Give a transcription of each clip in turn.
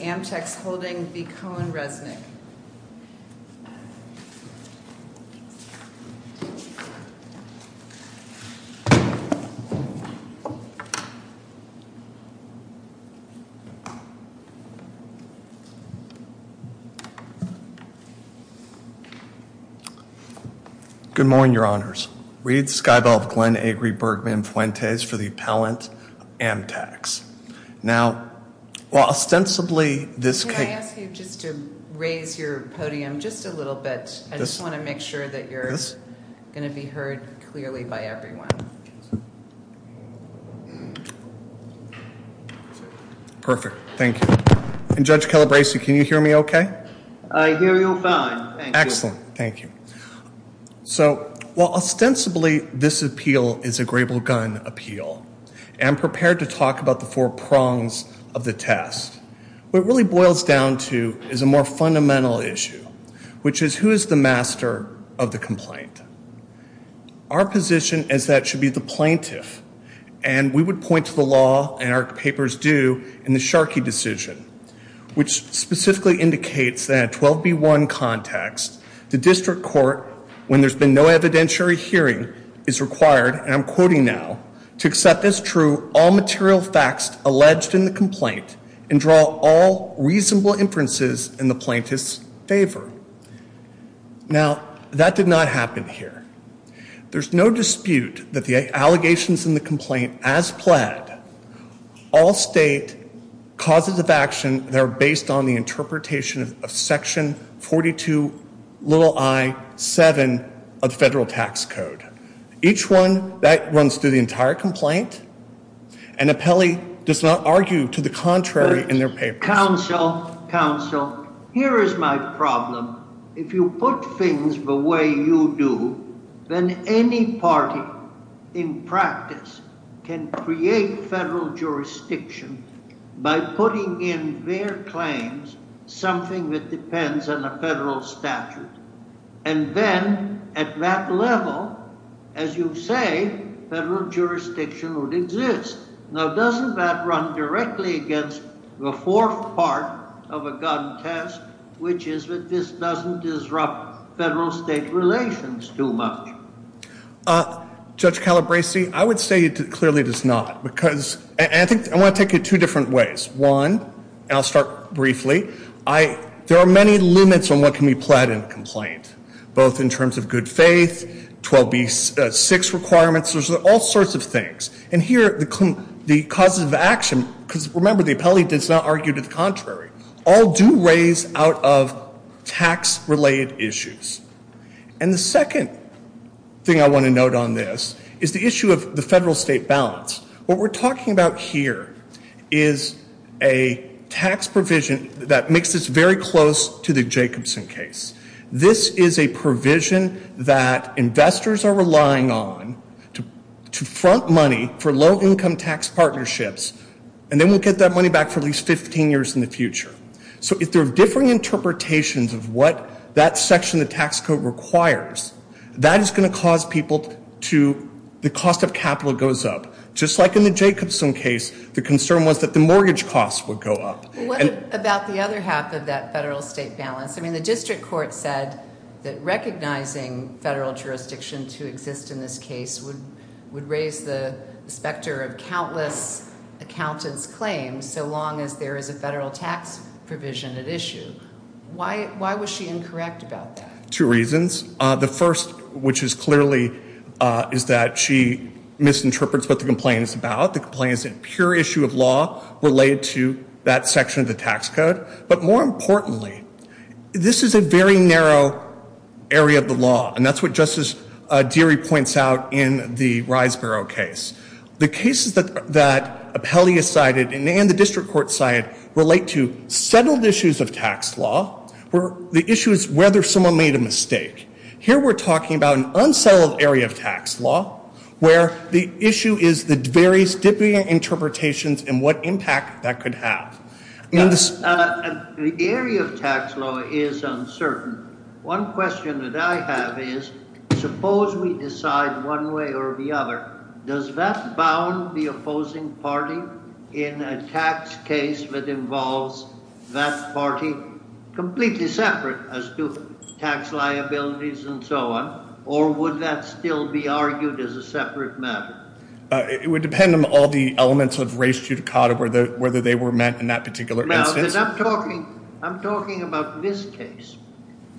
AMTAX Holdings 227, LLC v. CohnReznick LLP Good morning, Your Honors. Reed Skybelv Glenn Agri Bergman Fuentes for the Appellant, AMTAX. Now, well, ostensibly this... Can I ask you just to raise your podium just a little bit? I just want to make sure that you're going to be heard clearly by everyone. Perfect. Thank you. And Judge Calabresi, can you hear me okay? I hear you fine. Excellent. Thank you. So, while ostensibly this appeal is a grable gun appeal and prepared to talk about the four prongs of the test, what it really boils down to is a more fundamental issue, which is who is the master of the complaint? Our position is that it should be the plaintiff. And we would point to the law, and our papers do, in the Sharkey decision, which specifically indicates that 12b1 context, the district court, when there's been no evidentiary hearing, is required, and I'm quoting now, to accept as true all material facts alleged in the complaint and draw all reasonable inferences in the plaintiff's favor. Now, that did not happen here. There's no dispute that the allegations in the complaint, as pled, all state causes of action that are based on the interpretation of section 42, little i, 7 of federal tax code. Each one, that runs through the entire complaint. And appellee does not argue to the contrary in their papers. Counsel, counsel, here is my problem. If you put things the way you do, then any party in practice can create federal jurisdiction by putting in their claims something that depends on the federal statute. And then, at that level, as you say, federal jurisdiction would exist. Now, doesn't that run directly against the fourth part of a gun test, which is that this doesn't disrupt federal state relations too much? Judge Calabresi, I would say it clearly does not. And I want to take it two different ways. One, and I'll start briefly, there are many limits on what can be pled in a complaint, both in terms of good faith, 12b6 requirements, there's all sorts of things. And here, the causes of action, because remember, the appellee does not argue to the contrary, all do raise out of tax related issues. And the second thing I want to note on this is the issue of the federal state balance. What we're talking about here is a tax provision that makes this very close to the Jacobson case. This is a provision that investors are relying on to front money for low income tax partnerships, and then we'll get that money back for at least 15 years in the future. So if there are different interpretations of what that section of the tax code requires, that is going to cause people to, the cost of capital goes up. Just like in the Jacobson case, the concern was that the mortgage costs would go up. Well, what about the other half of that federal state balance? I mean, the district court said that recognizing federal jurisdiction to exist in this case would raise the specter of countless accountants' claims so long as there is a federal tax provision at issue. Why was she incorrect about that? Two reasons. The first, which is clearly, is that she misinterprets what the complaint is about. The complaint is a pure issue of law related to that section of the tax code. But more importantly, this is a very narrow area of the law. And that's what Justice Deary points out in the Riseboro case. The cases that Appellee has cited and the district court cited relate to settled issues of tax law, where the issue is whether someone made a mistake. Here we're talking about an unsettled area of tax law, where the issue is the various different interpretations and what impact that could have. The area of tax law is uncertain. One question that I have is, suppose we decide one way or the other, does that bound the opposing party in a tax case that involves that party completely separate as to tax liabilities and so on? Or would that still be argued as a separate matter? It would depend on all the elements of res judicata, whether they were met in that particular instance. I'm talking about this case.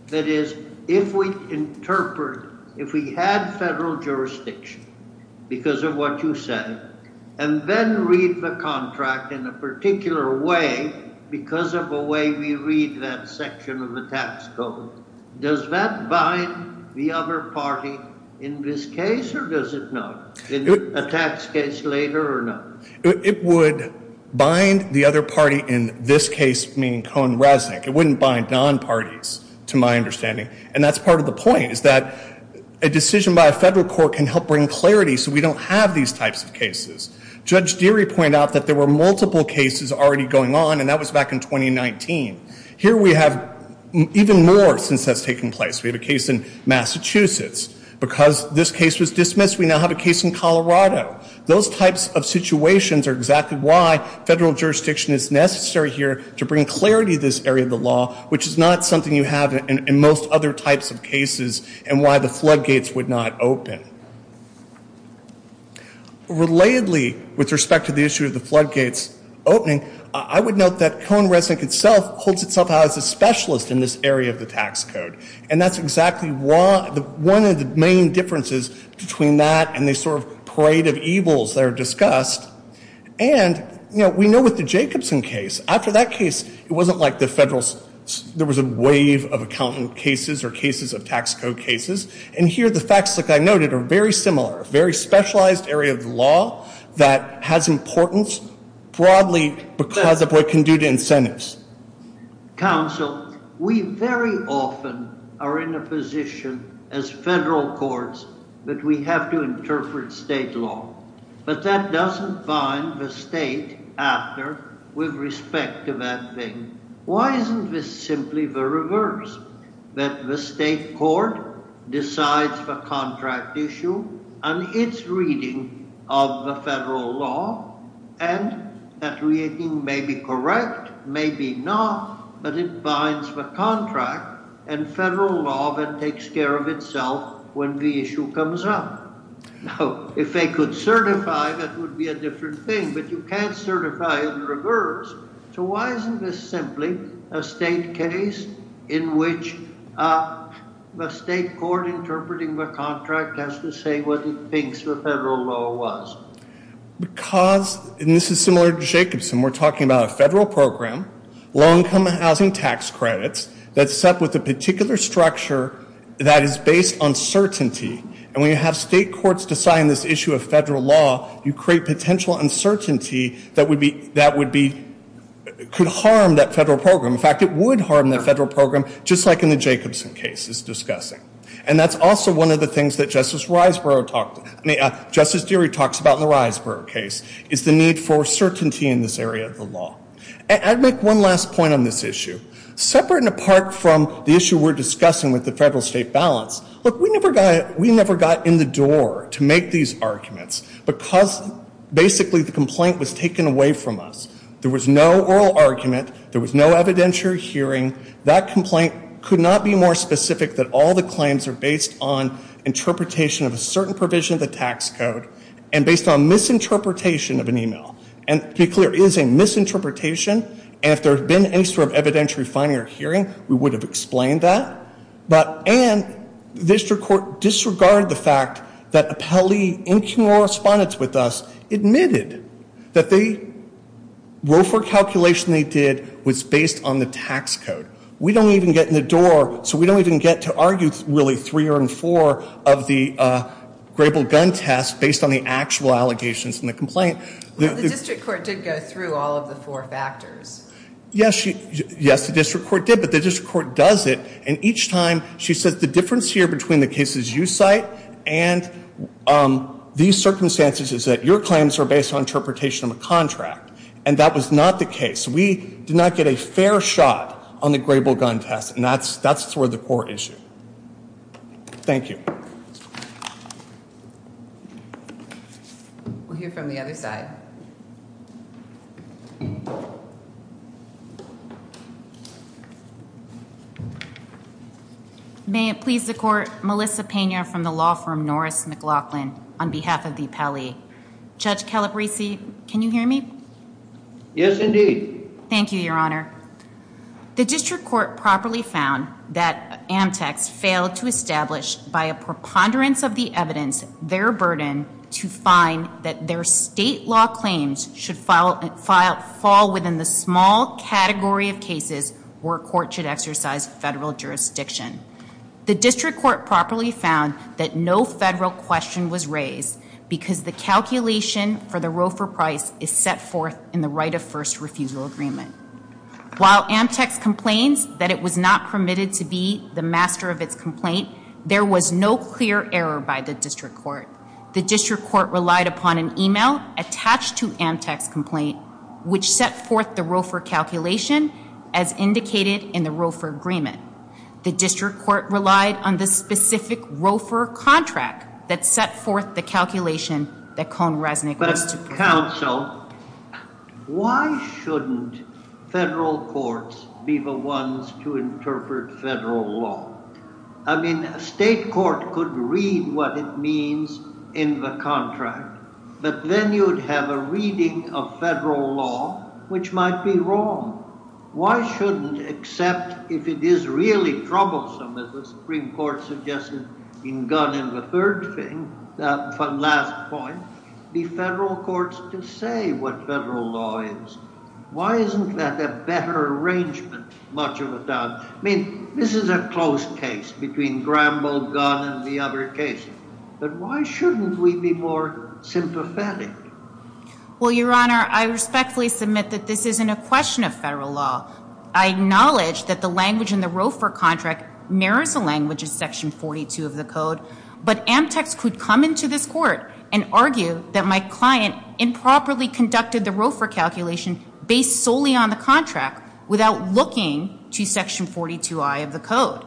That is, if we interpret, if we had federal jurisdiction because of what you said, and then read the contract in a particular way because of the way we read that section of the tax code, does that bind the other party in this case or does it not? In a tax case later or not? It would bind the other party in this case, meaning Cohen-Resnick. It wouldn't bind non-parties, to my understanding. And that's part of the point, is that a decision by a federal court can help bring clarity so we don't have these types of cases. Judge Deary pointed out that there were multiple cases already going on, and that was back in 2019. Here we have even more since that's taken place. We have a case in Massachusetts. Because this case was dismissed, we now have a case in Colorado. Those types of situations are exactly why federal jurisdiction is necessary here to bring clarity to this area of the law, which is not something you have in most other types of cases and why the floodgates would not open. Relatedly, with respect to the issue of the floodgates opening, I would note that Cohen-Resnick itself holds itself out as a specialist in this area of the tax code. And that's exactly one of the main differences between that and the sort of parade of evils that are discussed. And we know with the Jacobson case, after that case, it wasn't like there was a wave of accountant cases or cases of tax code cases. And here the facts, like I noted, are very similar. A very specialized area of the law that has importance broadly because of what it can do to incentives. Counsel, we very often are in a position as federal courts that we have to interpret state law, but that doesn't bind the state actor with respect to that thing. Why isn't this simply the reverse? That the state court decides the contract issue and its reading of the federal law and that reading may be correct, may be not, but it binds the contract and federal law that takes care of itself when the issue comes up. Now, if they could certify, that would be a different thing, but you can't certify in reverse. So why isn't this simply a state case in which the state court interpreting the contract has to say what it thinks the federal law was? Because, and this is similar to Jacobson, we're talking about a federal program, low income housing tax credits, that's set with a particular structure that is based on certainty. And when you have state courts deciding this issue of federal law, you create potential uncertainty that would be, could harm that federal program. In fact, it would harm that federal program, just like in the Jacobson case is discussing. And that's also one of the things that Justice Deary talks about in the Risborough case, is the need for certainty in this area of the law. I'd make one last point on this issue. Separate and apart from the issue we're discussing with the federal state balance, look, we never got in the door to make these arguments because basically the complaint was taken away from us. There was no oral argument. There was no evidentiary hearing. That complaint could not be more specific that all the claims are based on interpretation of a certain provision of the tax code and based on misinterpretation of an email. And to be clear, it is a misinterpretation, and if there had been any sort of evidentiary finding or hearing, we would have explained that. But, and the district court disregarded the fact that appellee, incoming correspondents with us, admitted that the Roe for calculation they did was based on the tax code. We don't even get in the door, so we don't even get to argue really three or four of the grable gun test based on the actual allegations in the complaint. The district court did go through all of the four factors. Yes, the district court did, but the district court does it, and each time she says the difference here between the cases you cite and these circumstances is that your claims are based on interpretation of a contract. And that was not the case. We did not get a fair shot on the grable gun test, and that's sort of the core issue. Thank you. We'll hear from the other side. May it please the court. Melissa Pena from the law firm, Norris McLaughlin on behalf of the Pele. Judge Calabrese. Can you hear me? Yes, indeed. Thank you, Your Honor. The district court properly found that Amtex failed to establish, by a preponderance of the evidence, their burden to find that their state law claims should fall within the small category of cases where a court should exercise federal jurisdiction. The district court properly found that no federal question was raised because the calculation for the ROFR price is set forth in the right of first refusal agreement. While Amtex complains that it was not permitted to be the master of its complaint, there was no clear error by the district court. The district court relied upon an email attached to Amtex's complaint, which set forth the ROFR calculation as indicated in the ROFR agreement. The district court relied on the specific ROFR contract that set forth the calculation that Cohn-Resnick was to propose. But, counsel, why shouldn't federal courts be the ones to interpret federal law? I mean, a state court could read what it means in the contract, but then you'd have a reading of federal law which might be wrong. Why shouldn't, except if it is really troublesome, as the Supreme Court suggested in Gunn and the third thing, the last point, be federal courts to say what federal law is? Why isn't that a better arrangement, much of a doubt? I mean, this is a close case between Gramble, Gunn, and the other cases, but why shouldn't we be more sympathetic? Well, Your Honor, I respectfully submit that this isn't a question of federal law. I acknowledge that the language in the ROFR contract mirrors the language of section 42 of the code, but Amtex could come into this court and argue that my client improperly conducted the ROFR calculation based solely on the contract without looking to section 42I of the code.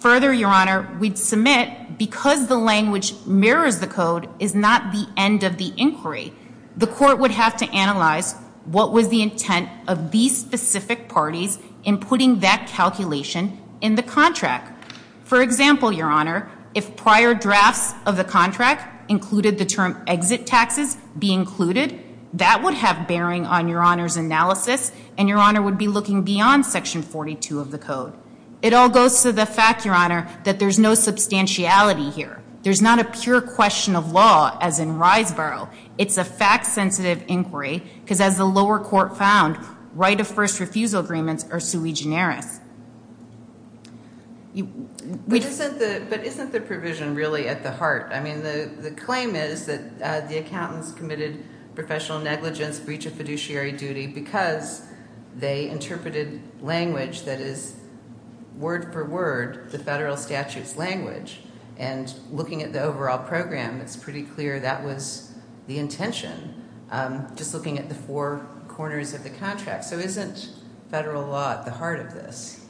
Further, Your Honor, we'd submit, because the language mirrors the code, is not the end of the inquiry. The court would have to analyze what was the intent of these specific parties in putting that calculation in the contract. For example, Your Honor, if prior drafts of the contract included the term exit taxes be included, that would have bearing on Your Honor's analysis, and Your Honor would be looking beyond section 42 of the code. It all goes to the fact, Your Honor, that there's no substantiality here. There's not a pure question of law, as in Rysborough. It's a fact-sensitive inquiry, because as the lower court found, right-of-first refusal agreements are sui generis. But isn't the provision really at the heart? I mean, the claim is that the accountants committed professional negligence, breach of fiduciary duty, because they interpreted language that is word-for-word the federal statute's language. And looking at the overall program, it's pretty clear that was the intention, just looking at the four corners of the contract. So isn't federal law at the heart of this?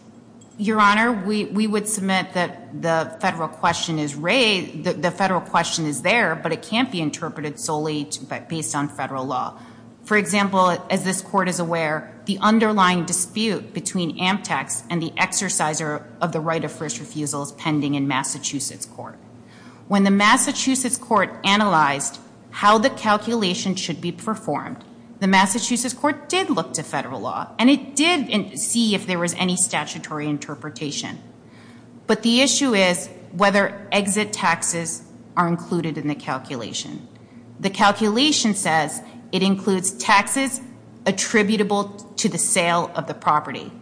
Your Honor, we would submit that the federal question is raised, the federal question is there, but it can't be interpreted solely based on federal law. For example, as this court is aware, the underlying dispute between Amtex and the exerciser of the right-of-first refusal is pending in Massachusetts court. When the Massachusetts court analyzed how the calculation should be performed, the Massachusetts court did look to federal law, and it did see if there was any statutory interpretation. But the issue is whether exit taxes are included in the calculation. The calculation says it includes taxes attributable to the sale of the property.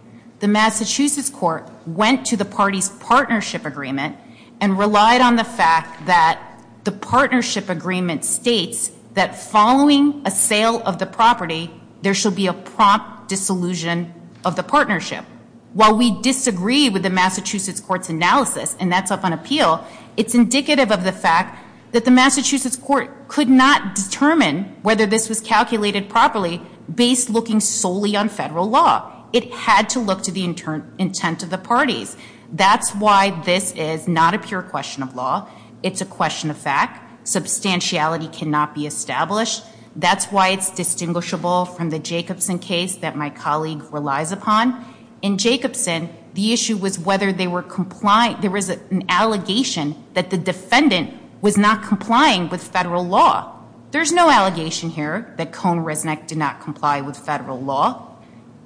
The Massachusetts court went to the party's partnership agreement and relied on the fact that the partnership agreement states that following a sale of the property, there should be a prompt dissolution of the partnership. While we disagree with the Massachusetts court's analysis, and that's up on appeal, it's indicative of the fact that the Massachusetts court could not determine whether this was calculated properly based looking solely on federal law. It had to look to the intent of the parties. That's why this is not a pure question of law. It's a question of fact. Substantiality cannot be established. That's why it's distinguishable from the Jacobson case that my colleague relies upon. In Jacobson, the issue was whether they were compliant. There was an allegation that the defendant was not complying with federal law. There's no allegation here that Cohn-Resnick did not comply with federal law.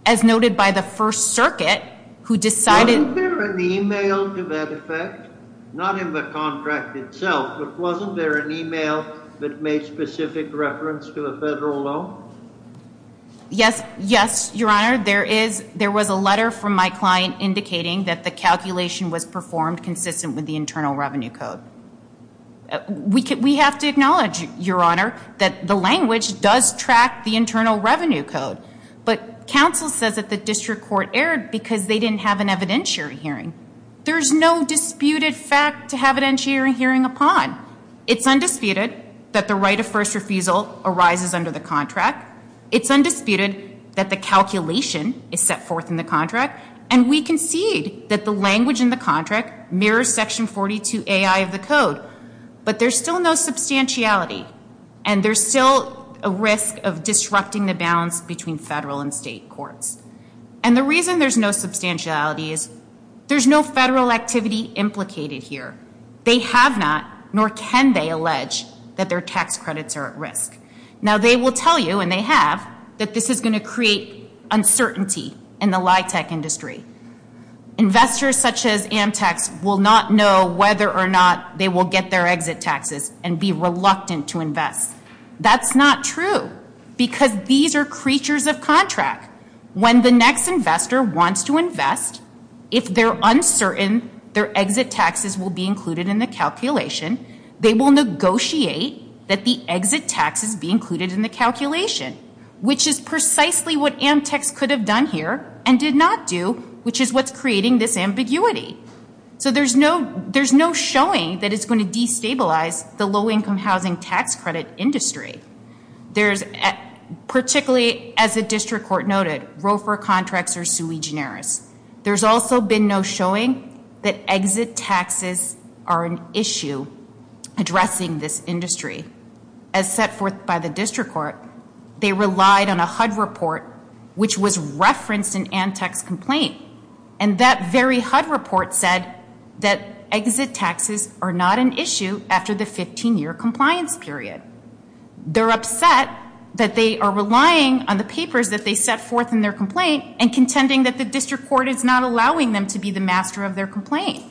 As noted by the First Circuit, who decided- Wasn't there an email to that effect? Not in the contract itself, but wasn't there an email that made specific reference to the federal law? Yes, Your Honor. There was a letter from my client indicating that the calculation was performed consistent with the Internal Revenue Code. We have to acknowledge, Your Honor, that the language does track the Internal Revenue Code. But counsel says that the district court erred because they didn't have an evidentiary hearing. There's no disputed fact to have an evidentiary hearing upon. It's undisputed that the right of first refusal arises under the contract. It's undisputed that the calculation is set forth in the contract. And we concede that the language in the contract mirrors Section 42AI of the code. But there's still no substantiality. And there's still a risk of disrupting the balance between federal and state courts. And the reason there's no substantiality is there's no federal activity implicated here. They have not, nor can they, allege that their tax credits are at risk. Now, they will tell you, and they have, that this is going to create uncertainty in the LIHTC industry. Investors such as Amtex will not know whether or not they will get their exit taxes and be reluctant to invest. That's not true. Because these are creatures of contract. When the next investor wants to invest, if they're uncertain their exit taxes will be included in the calculation, they will negotiate that the exit taxes be included in the calculation. Which is precisely what Amtex could have done here and did not do, which is what's creating this ambiguity. So there's no showing that it's going to destabilize the low-income housing tax credit industry. Particularly, as the district court noted, ROFR contracts are sui generis. There's also been no showing that exit taxes are an issue addressing this industry. As set forth by the district court, they relied on a HUD report, which was referenced in Amtex complaint. And that very HUD report said that exit taxes are not an issue after the 15-year compliance period. They're upset that they are relying on the papers that they set forth in their complaint and contending that the district court is not allowing them to be the master of their complaint.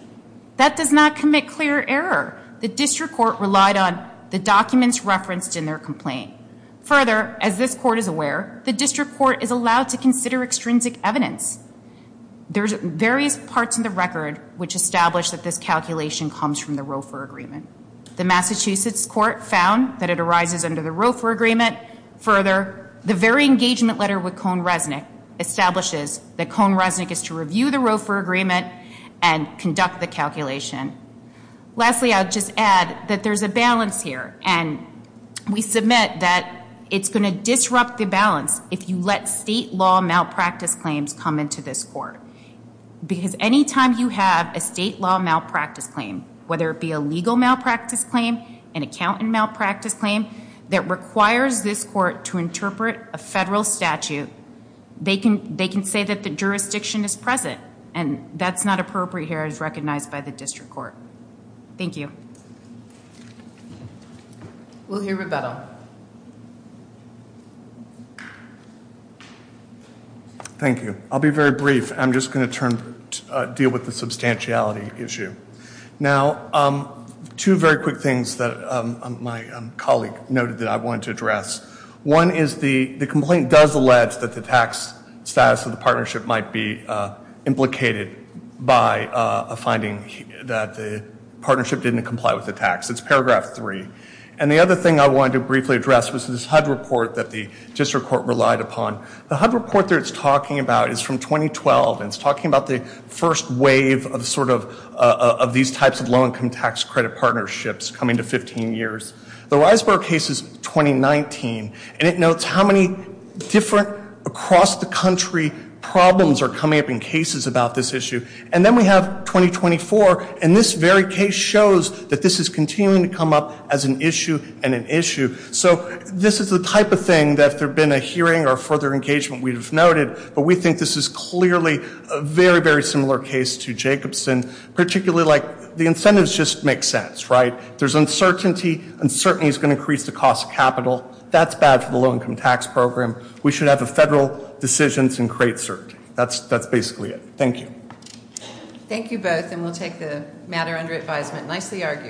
That does not commit clear error. The district court relied on the documents referenced in their complaint. Further, as this court is aware, the district court is allowed to consider extrinsic evidence. There's various parts in the record which establish that this calculation comes from the ROFR agreement. The Massachusetts court found that it arises under the ROFR agreement. Further, the very engagement letter with Cohn-Resnick establishes that Cohn-Resnick is to review the ROFR agreement and conduct the calculation. Lastly, I'll just add that there's a balance here. And we submit that it's going to disrupt the balance if you let state law malpractice claims come into this court. Because anytime you have a state law malpractice claim, whether it be a legal malpractice claim, an accountant malpractice claim, that requires this court to interpret a federal statute, they can say that the jurisdiction is present. And that's not appropriate here as recognized by the district court. Thank you. We'll hear rebuttal. Thank you. I'll be very brief. I'm just going to deal with the substantiality issue. Now, two very quick things that my colleague noted that I wanted to address. One is the complaint does allege that the tax status of the partnership might be implicated by a finding that the partnership didn't comply with the tax. It's paragraph three. And the other thing I wanted to briefly address was this HUD report that the district court relied upon. The HUD report that it's talking about is from 2012. And it's talking about the first wave of sort of these types of low-income tax credit partnerships coming to 15 years. The Reisberg case is 2019. And it notes how many different across-the-country problems are coming up in cases about this issue. And then we have 2024. And this very case shows that this is continuing to come up as an issue and an issue. So this is the type of thing that if there had been a hearing or further engagement, we would have noted. But we think this is clearly a very, very similar case to Jacobson, particularly like the incentives just make sense, right? There's uncertainty. Uncertainty is going to increase the cost of capital. That's bad for the low-income tax program. We should have the federal decisions and create certainty. That's basically it. Thank you. Thank you both. And we'll take the matter under advisement. Nicely argued.